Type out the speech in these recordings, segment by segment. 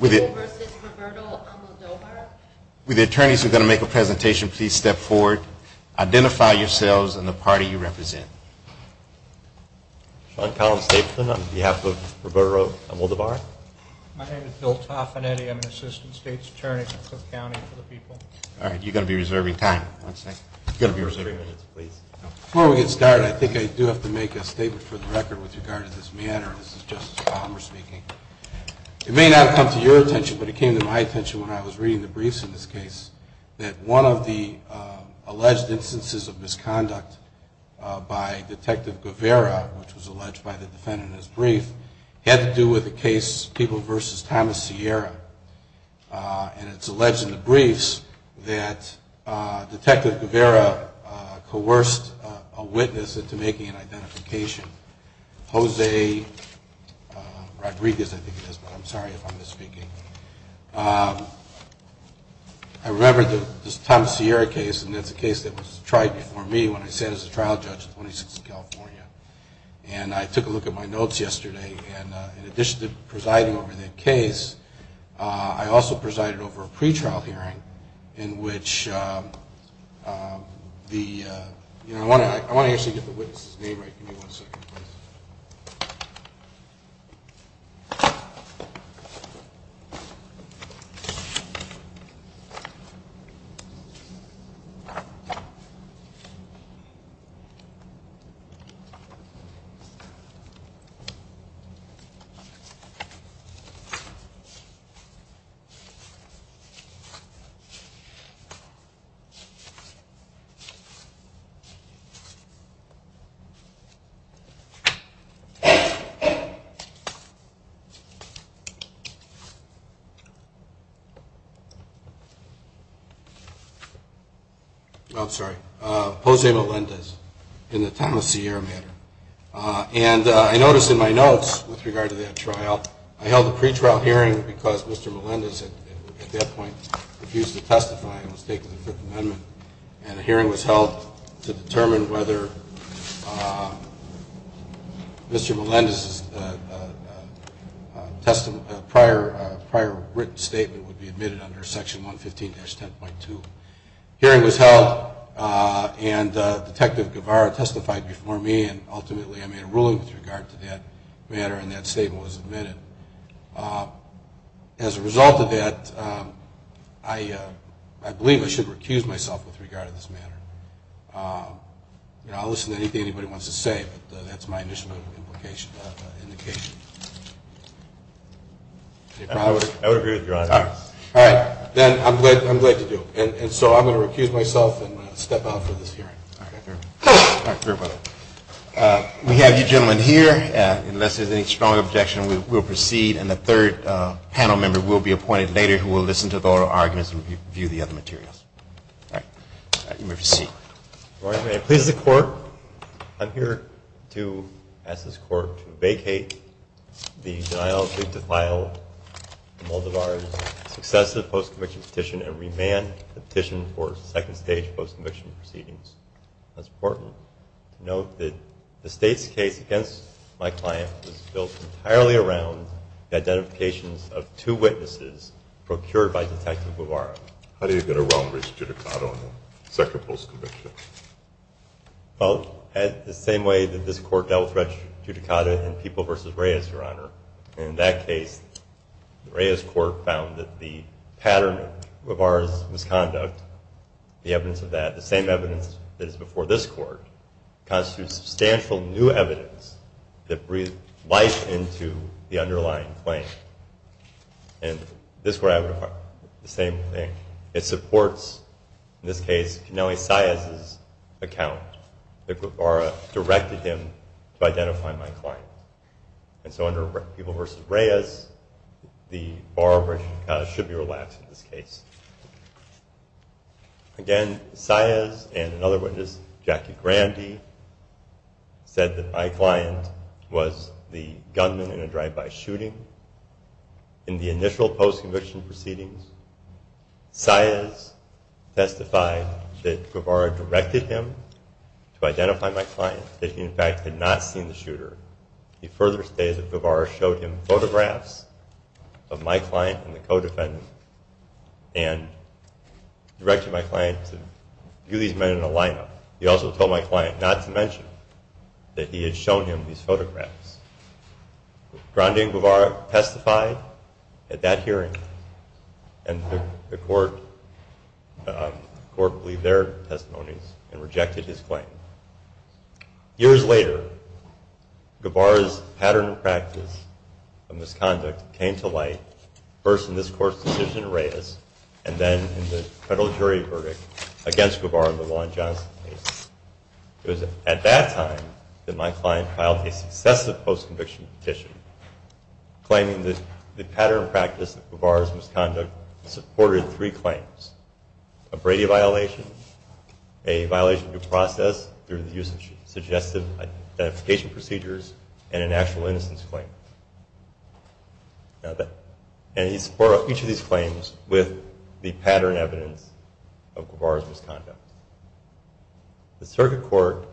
With the attorneys who are going to make a presentation, please step forward. Identify yourselves and the party you represent. Sean Collins-Stapleton on behalf of Roberto Almodovar. My name is Bill Toffanetti. I'm an assistant state's attorney for Cook County for the people. All right, you're going to be reserving time. Before we get started, I think I do have to make a statement for the record with regard to this matter. This is Justice Palmer speaking. It may not come to your attention, but it came to my attention when I was reading the briefs in this case that one of the alleged instances of misconduct by Detective Guevara, which was alleged by the defendant in his brief, had to do with a case, People v. Thomas Sierra. And it's alleged in the briefs that Detective Guevara coerced a witness into making an identification. Jose Rodriguez, I think it is, but I'm sorry if I'm misspeaking. I remember this Thomas Sierra case, and it's a case that was tried before me when I sat as a trial judge in 26th California. And I took a look at my notes yesterday, and in addition to presiding over that case, I also presided over a pretrial hearing in which the ‑‑ I want to actually get the witness' name right. Give me one second, please. Oh, I'm sorry. Jose Melendez in the Thomas Sierra matter. And I noticed in my notes with regard to that trial, I held a pretrial hearing because Mr. Melendez at that point refused to testify and was taking the Fifth Amendment, and a hearing was held to determine whether Mr. Melendez's prior written statement would be admitted under Section 115-10.2. A hearing was held, and Detective Guevara testified before me, and ultimately I made a ruling with regard to that matter, and that statement was admitted. As a result of that, I believe I should recuse myself with regard to this matter. I'll listen to anything anybody wants to say, but that's my initial indication. I would agree with you, Your Honor. All right. Then I'm glad to do it. And so I'm going to recuse myself and step out for this hearing. We have you gentlemen here. Unless there's any strong objection, we'll proceed, and the third panel member will be appointed later who will listen to the oral arguments and review the other materials. All right. You may proceed. Your Honor, may I please the Court? I'm here to ask this Court to vacate the deniably defiled Moldavar's successive post-conviction petition and remand the petition for second stage post-conviction proceedings. That's important. Note that the State's case against my client was built entirely around the identifications of two witnesses procured by Detective Guevara. How do you get around Rex Giudicata on the second post-conviction? Well, the same way that this Court dealt Rex Giudicata in People v. Reyes, Your Honor. In that case, Reyes Court found that the pattern of Moldavar's misconduct, the evidence of that, the same evidence that is before this Court, constitutes substantial new evidence that breathed life into the underlying claim. And this Court identified the same thing. It supports, in this case, Canelli Saez's account that Guevara directed him to identify my client. And so under People v. Reyes, the Bar-Rex Giudicata should be relaxed in this case. Again, Saez and another witness, Jackie Grandy, said that my client was the gunman in a drive-by shooting. In the initial post-conviction proceedings, Saez testified that Guevara directed him to identify my client, that he in fact had not seen the shooter. He further stated that Guevara showed him photographs of my client and the co-defendant and directed my client to view these men in a lineup. He also told my client not to mention that he had shown him these photographs. Grandy and Guevara testified at that hearing, and the Court believed their testimonies and rejected his claim. Years later, Guevara's pattern of practice of misconduct came to light, first in this Court's decision in Reyes, and then in the federal jury verdict against Guevara in the Law & Johnson case. It was at that time that my client filed a successive post-conviction petition claiming that the pattern of practice of Guevara's misconduct supported three claims. A Brady violation, a violation of due process through the use of suggestive identification procedures, and an actual innocence claim. And he supported each of these claims with the pattern evidence of Guevara's misconduct. The Circuit Court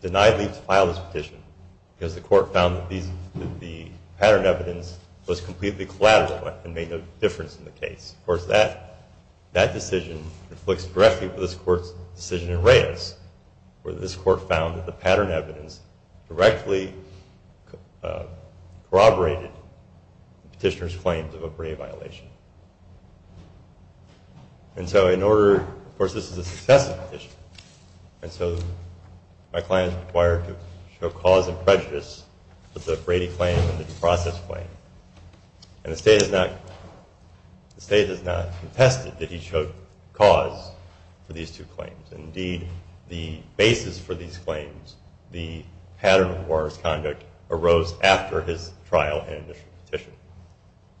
denied Lee to file this petition because the Court found that the pattern evidence was completely collateral and made no difference in the case. Of course, that decision reflects directly to this Court's decision in Reyes, where this Court found that the pattern evidence directly corroborated the petitioner's claims of a Brady violation. And so in order, of course this is a successive petition, and so my client is required to show cause and prejudice for the Brady claim and the due process claim. And the State has not contested that he showed cause for these two claims. Indeed, the basis for these claims, the pattern of Guevara's conduct, arose after his trial and initial petition.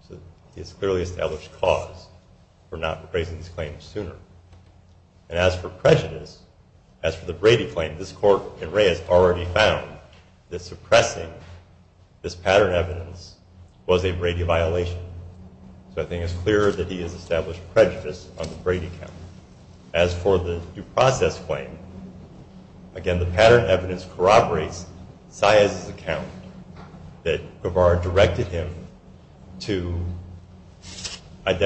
So he has clearly established cause for not raising these claims sooner. And as for prejudice, as for the Brady claim, this Court in Reyes already found that suppressing this pattern evidence was a Brady violation. So I think it's clear that he has established prejudice on the Brady count. As for the due process claim, again, the pattern evidence corroborates Saez's account that Guevara directed him to file this petition. And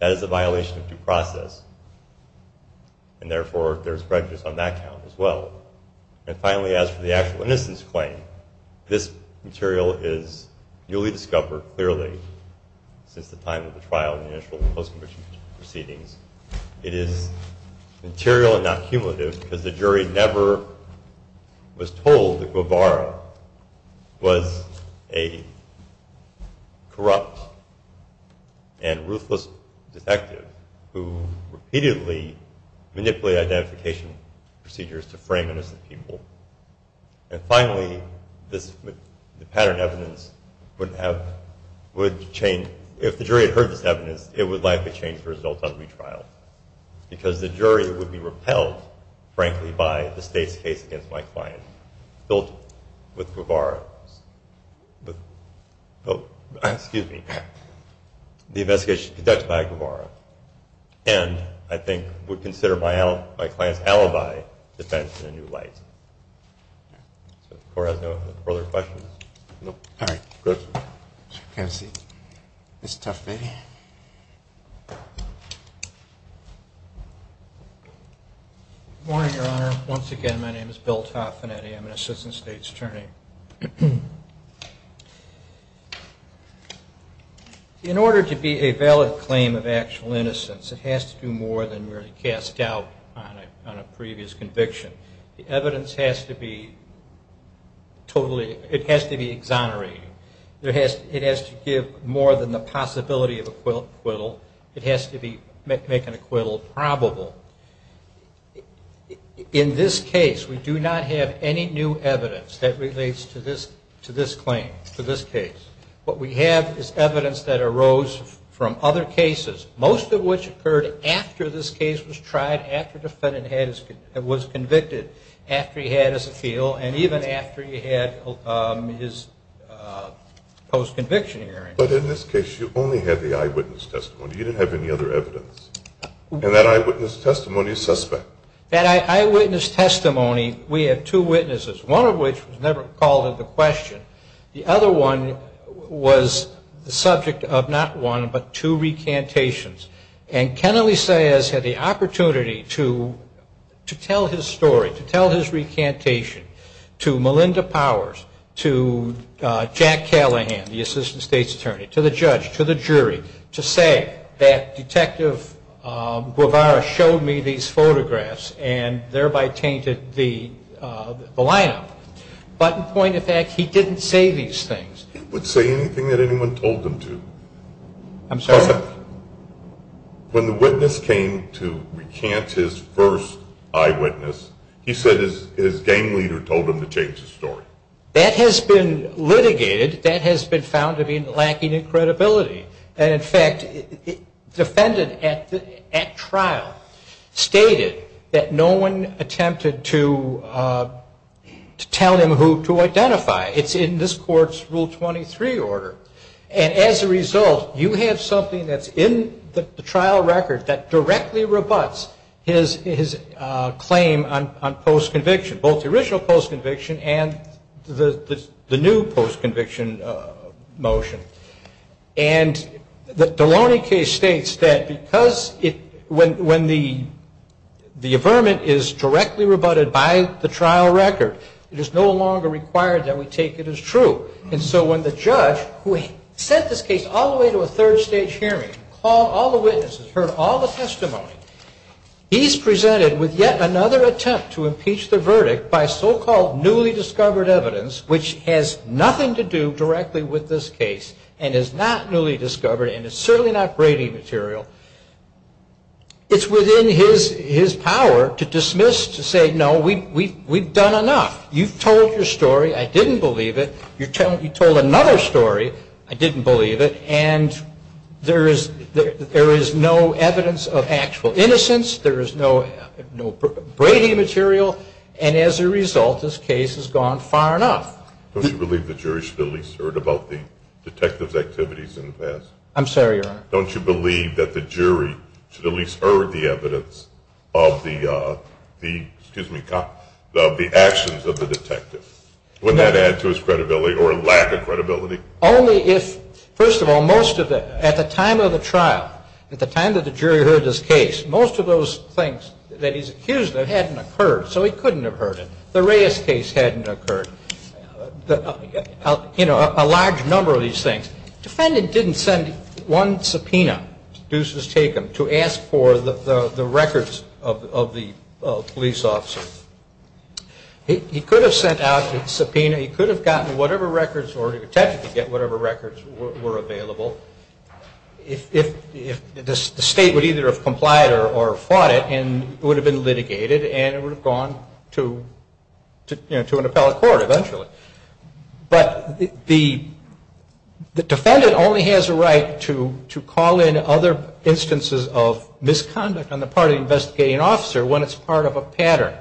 that is a violation of due process. And therefore, there's prejudice on that count as well. And finally, as for the actual innocence claim, this material is newly discovered, clearly, since the time of the trial and the initial post-conviction proceedings. It is material and not cumulative, because the jury never was told that Guevara was guilty. It was a corrupt and ruthless detective who repeatedly manipulated identification procedures to frame innocent people. And finally, if the jury had heard this evidence, it would likely change the results on retrial. Because the jury would be repelled, frankly, by the State's case against my client. And I think that's the case that's being built with Guevara. Excuse me. The investigation conducted by Guevara. And I think would consider my client's alibi defense in a new light. So the Court has no further questions? All right. Go ahead. Good morning, Your Honor. Once again, my name is Bill Toffinetti. I'm an Assistant State's Attorney. In order to be a valid claim of actual innocence, it has to do more than merely cast doubt on a previous conviction. The evidence has to be totally, it has to be exonerating. It has to give more than the possibility of acquittal. It has to make an acquittal probable. In this case, we do not have any new evidence that relates to this claim, to this case. What we have is evidence that arose from other cases, most of which occurred after this case was tried, after the defendant was convicted, after he had his appeal, and even after he had his post-conviction hearing. But in this case, you only had the eyewitness testimony. You didn't have any other evidence. And that eyewitness testimony is suspect. That eyewitness testimony, we have two witnesses, one of which was never called into question. The other one was the subject of not one, but two recantations. And Kennelly Saez had the opportunity to tell his story, to tell his recantation to Melinda Powers, to Jack Callahan, the Assistant State's Attorney, to the judge, to the jury, to say that Detective Guevara showed me these photographs and thereby tainted the lineup. But in point of fact, he didn't say these things. He wouldn't say anything that anyone told him to. I'm sorry? When the witness came to recant his first eyewitness, he said his gang leader told him to change the story. That has been litigated. That has been found to be lacking in credibility. And in fact, the defendant at trial stated that no one attempted to tell him who to identify. It's in this Court's Rule 23 order. And as a result, you have something that's in the trial record that directly rebutts his claim on post-conviction, both the original post-conviction and the new post-conviction motion. And the Delaunay case states that because when the affirmant is directly rebutted by the trial record, it is no longer required that we take it as true. And so when the judge, who had sent this case all the way to a third stage hearing, called all the witnesses, heard all the testimony, he's presented with yet another attempt to impeach the verdict by so-called newly discovered evidence, which has nothing to do directly with this case and is not newly discovered and is certainly not Brady material, it's within his power to dismiss, to say, no, we've done enough. You've told your story. I didn't believe it. You told another story. I didn't believe it. And there is no evidence of actual innocence. There is no Brady material. And as a result, this case has gone far enough. Don't you believe the jury should at least have heard about the detective's activities in the past? I'm sorry, Your Honor? Don't you believe that the jury should at least have heard the evidence of the actions of the detective? Wouldn't that add to his credibility or lack of credibility? Only if, first of all, most of it, at the time of the trial, at the time that the jury heard this case, most of those things that he's accused of hadn't occurred, so he couldn't have heard it. The Reyes case hadn't occurred. You know, a large number of these things. Defendant didn't send one subpoena, Deuce has taken, to ask for the records of the police officer. He could have sent out a subpoena. He could have gotten whatever records, or the detective could get whatever records were available, if the state would either have complied or fought it, and it would have been litigated, and it would have gone to an appellate court eventually. But the defendant only has a right to call in other instances of misconduct on the part of the investigating officer when it's part of a pattern.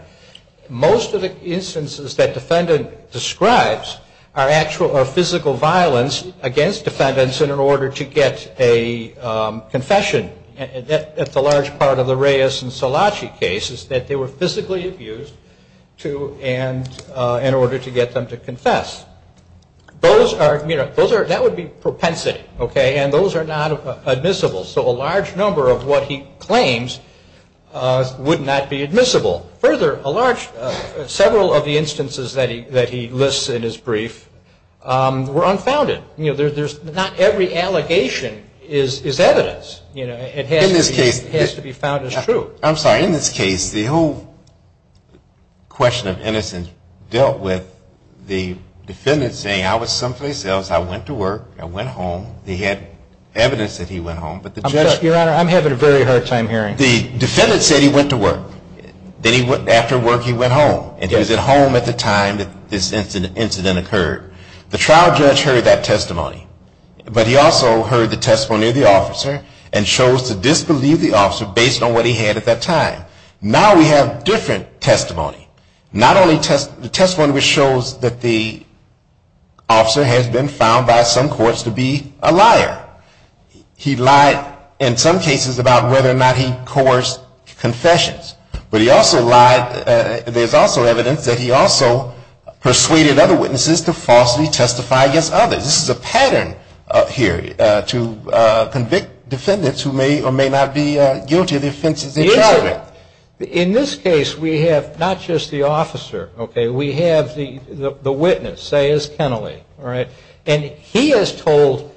Most of the instances that defendant describes are actual or physical violence against defendants in order to get a confession. And that's a large part of the Reyes and Szilagyi cases, that they were physically abused in order to get them to confess. Those are, you know, that would be propensity, okay, and those are not admissible. So a large number of what he claims would not be admissible. Further, a large, several of the instances that he lists in his brief were unfounded. You know, there's not every allegation is evidence, you know, it has to be found as true. I'm sorry, in this case, the whole question of innocence dealt with the defendant saying, I was someplace else, I went to work, I went home, he had evidence that he went home. Your Honor, I'm having a very hard time hearing. The defendant said he went to work. Then after work he went home, and he was at home at the time that this incident occurred. The trial judge heard that testimony, but he also heard the testimony of the officer and chose to disbelieve the officer based on what he had at that time. Now we have different testimony. Not only testimony which shows that the officer has been found by some courts to be a liar. He lied in some cases about whether or not he coerced confessions. But he also lied, there's also evidence that he also persuaded other witnesses to falsely testify against others. This is a pattern here to convict defendants who may or may not be guilty of the offenses they're charged with. In this case, we have not just the officer, okay, we have the witness, Sayers Kennelly. And he has told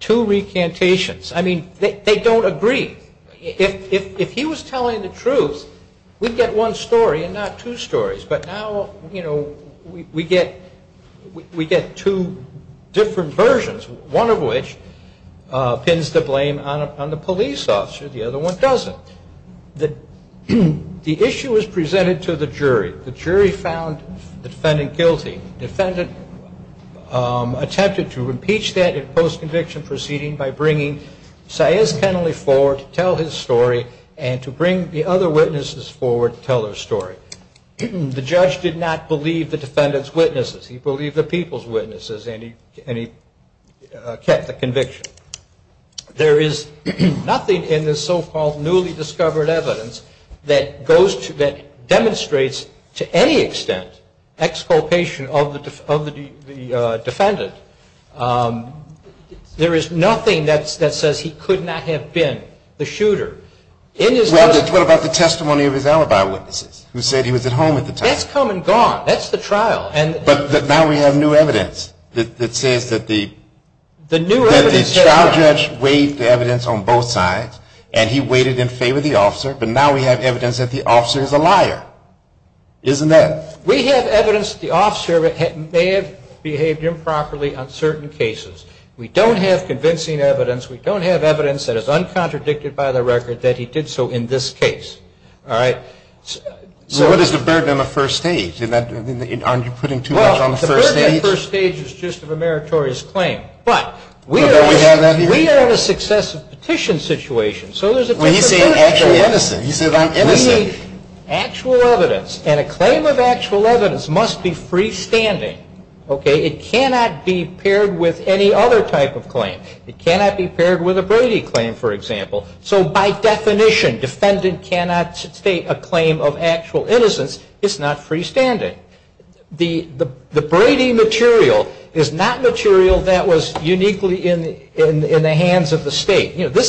two recantations. I mean, they don't agree. If he was telling the truth, we'd get one story and not two stories. But now, you know, we get two different versions, one of which pins the blame on the police officer, the other one doesn't. The issue is presented to the jury. The jury found the defendant guilty. The defendant attempted to impeach that in post-conviction proceeding by bringing Sayers Kennelly forward to tell his story and to bring the other witnesses forward to tell their story. The judge did not believe the defendant's witnesses. He believed the people's witnesses, and he kept the conviction. There is nothing in this so-called newly discovered evidence that goes to, that demonstrates to any extent exculpation of the defendant. There is nothing that says he could not have been the shooter. Well, what about the testimony of his alibi witnesses who said he was at home at the time? That's come and gone. That's the trial. But now we have new evidence that says that the trial judge weighed the evidence on both sides, and he weighted in favor of the officer, but now we have evidence that the officer is a liar. Isn't that? We have evidence that the officer may have behaved improperly on certain cases. We don't have convincing evidence. We don't have evidence that is uncontradicted by the record that he did so in this case. All right? So what is the burden on the first stage? Aren't you putting too much on the first stage? Well, the burden on the first stage is just of a meritorious claim. But we are in a successive petition situation. Well, he's saying actually innocent. Actual evidence, and a claim of actual evidence must be freestanding. It cannot be paired with any other type of claim. It cannot be paired with a Brady claim, for example. So by definition, defendant cannot state a claim of actual innocence. It's not freestanding. The Brady material is not material that was uniquely in the hands of the State. You know,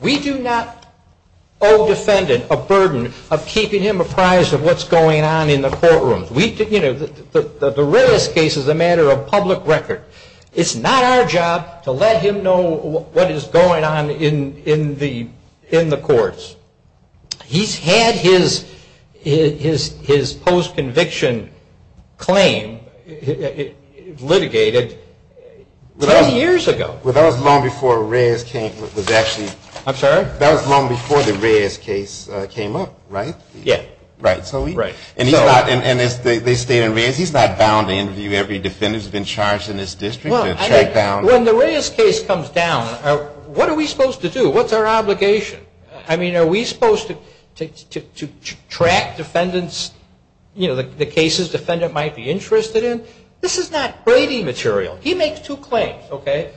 we do not owe defendant a burden of keeping him apprised of what's going on in the courtroom. You know, the Reyes case is a matter of public record. It's not our job to let him know what is going on in the courts. He's had his post-conviction claim litigated 20 years ago. Well, that was long before Reyes came up. That was long before the Reyes case came up, right? And they stayed in Reyes. He's not bound to interview every defendant who's been charged in this district. When the Reyes case comes down, what are we supposed to do? What's our obligation? I mean, are we supposed to track the cases the defendant might be interested in? This is not Brady material. He makes two claims,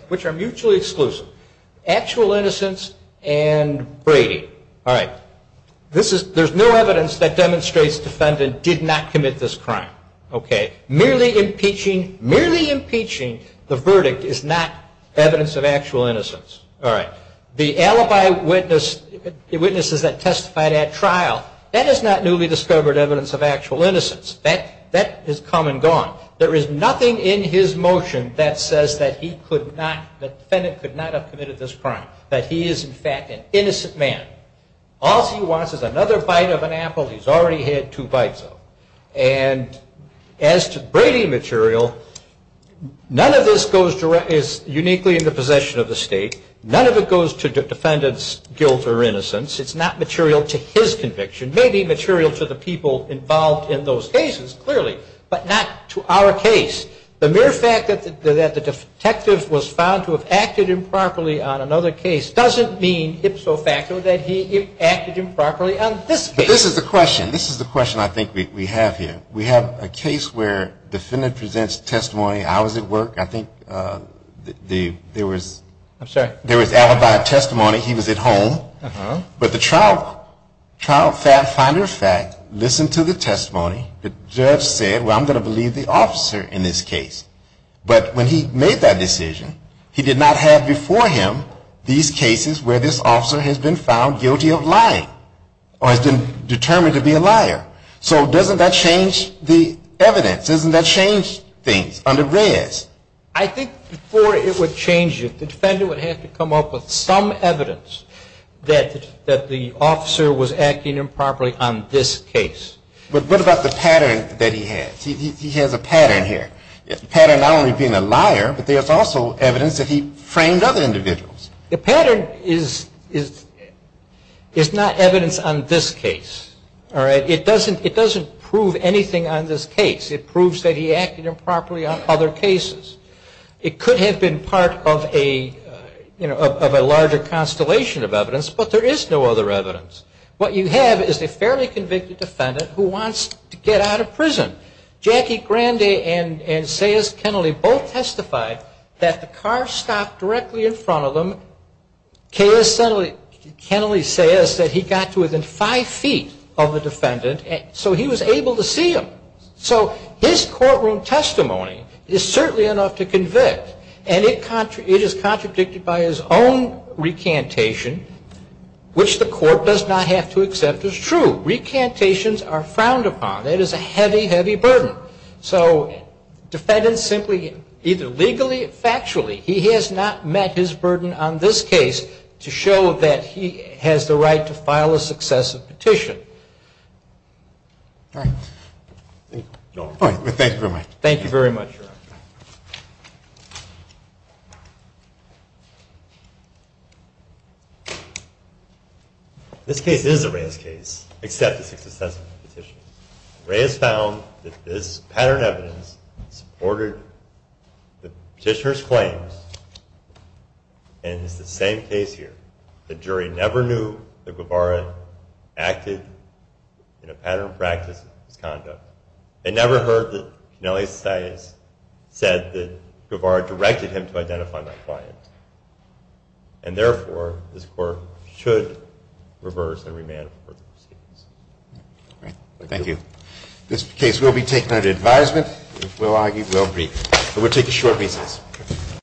which are mutually exclusive. Actual innocence and Brady. There's no evidence that demonstrates defendant did not commit this crime. Merely impeaching the verdict is not evidence of actual innocence. The alibi witnesses that testified at trial, that is not newly discovered evidence of actual innocence. That is come and gone. There is nothing in his motion that says that the defendant could not have committed this crime. That he is, in fact, an innocent man. All he wants is another bite of an apple he's already had two bites of. And as to Brady material, none of this is uniquely in the possession of the state. None of it goes to defendant's guilt or innocence. It's not material to his conviction. Maybe material to the people involved in those cases, clearly. But not to our case. The mere fact that the detective was found to have acted improperly on another case doesn't mean ipso facto that he acted improperly on this case. But this is the question. This is the question I think we have here. We have a case where defendant presents testimony. I was at work. I think there was alibi testimony. He was at home. But the trial finder of fact listened to the testimony. The judge said, well, I'm going to believe the officer in this case. But when he made that decision, he did not have before him these cases where this officer has been found guilty of lying. Or has been determined to be a liar. So doesn't that change the evidence? Doesn't that change things under Reyes? I think before it would change it, the defendant would have to come up with some evidence that the officer was acting improperly on this case. But what about the pattern that he has? He has a pattern here. A pattern not only being a liar, but there's also evidence that he framed other individuals. The pattern is not evidence on this case. It doesn't prove anything on this case. It proves that he acted improperly on other cases. It could have been part of a larger constellation of evidence, but there is no other evidence. What you have is a fairly convicted defendant who wants to get out of prison. Jackie Grande and Sayers Kennelly both testified that the car stopped directly in front of them. Kennelly says that he got to within five feet of the defendant, so he was able to see them. So his courtroom testimony is certainly enough to convict. And it is contradicted by his own recantation, which the court does not have to accept as true. Recantations are frowned upon. That is a heavy, heavy burden. So defendants simply either legally or factually, he has not met his burden on this case to show that he has the right to file a successive petition. All right. Thank you very much. Thank you very much, Your Honor. This case is a Reyes case, except it's a successive petition. Reyes found that this pattern of evidence supported the petitioner's claims, and it's the same case here. The jury never knew that Guevara acted in a pattern of practice of his conduct. They never heard that Kennelly Sayers said that Guevara directed him to identify my client. And therefore, this court should reverse and remand further proceedings. All right. Thank you. This case will be taken under advisement. We'll argue we'll brief. We'll take a short recess.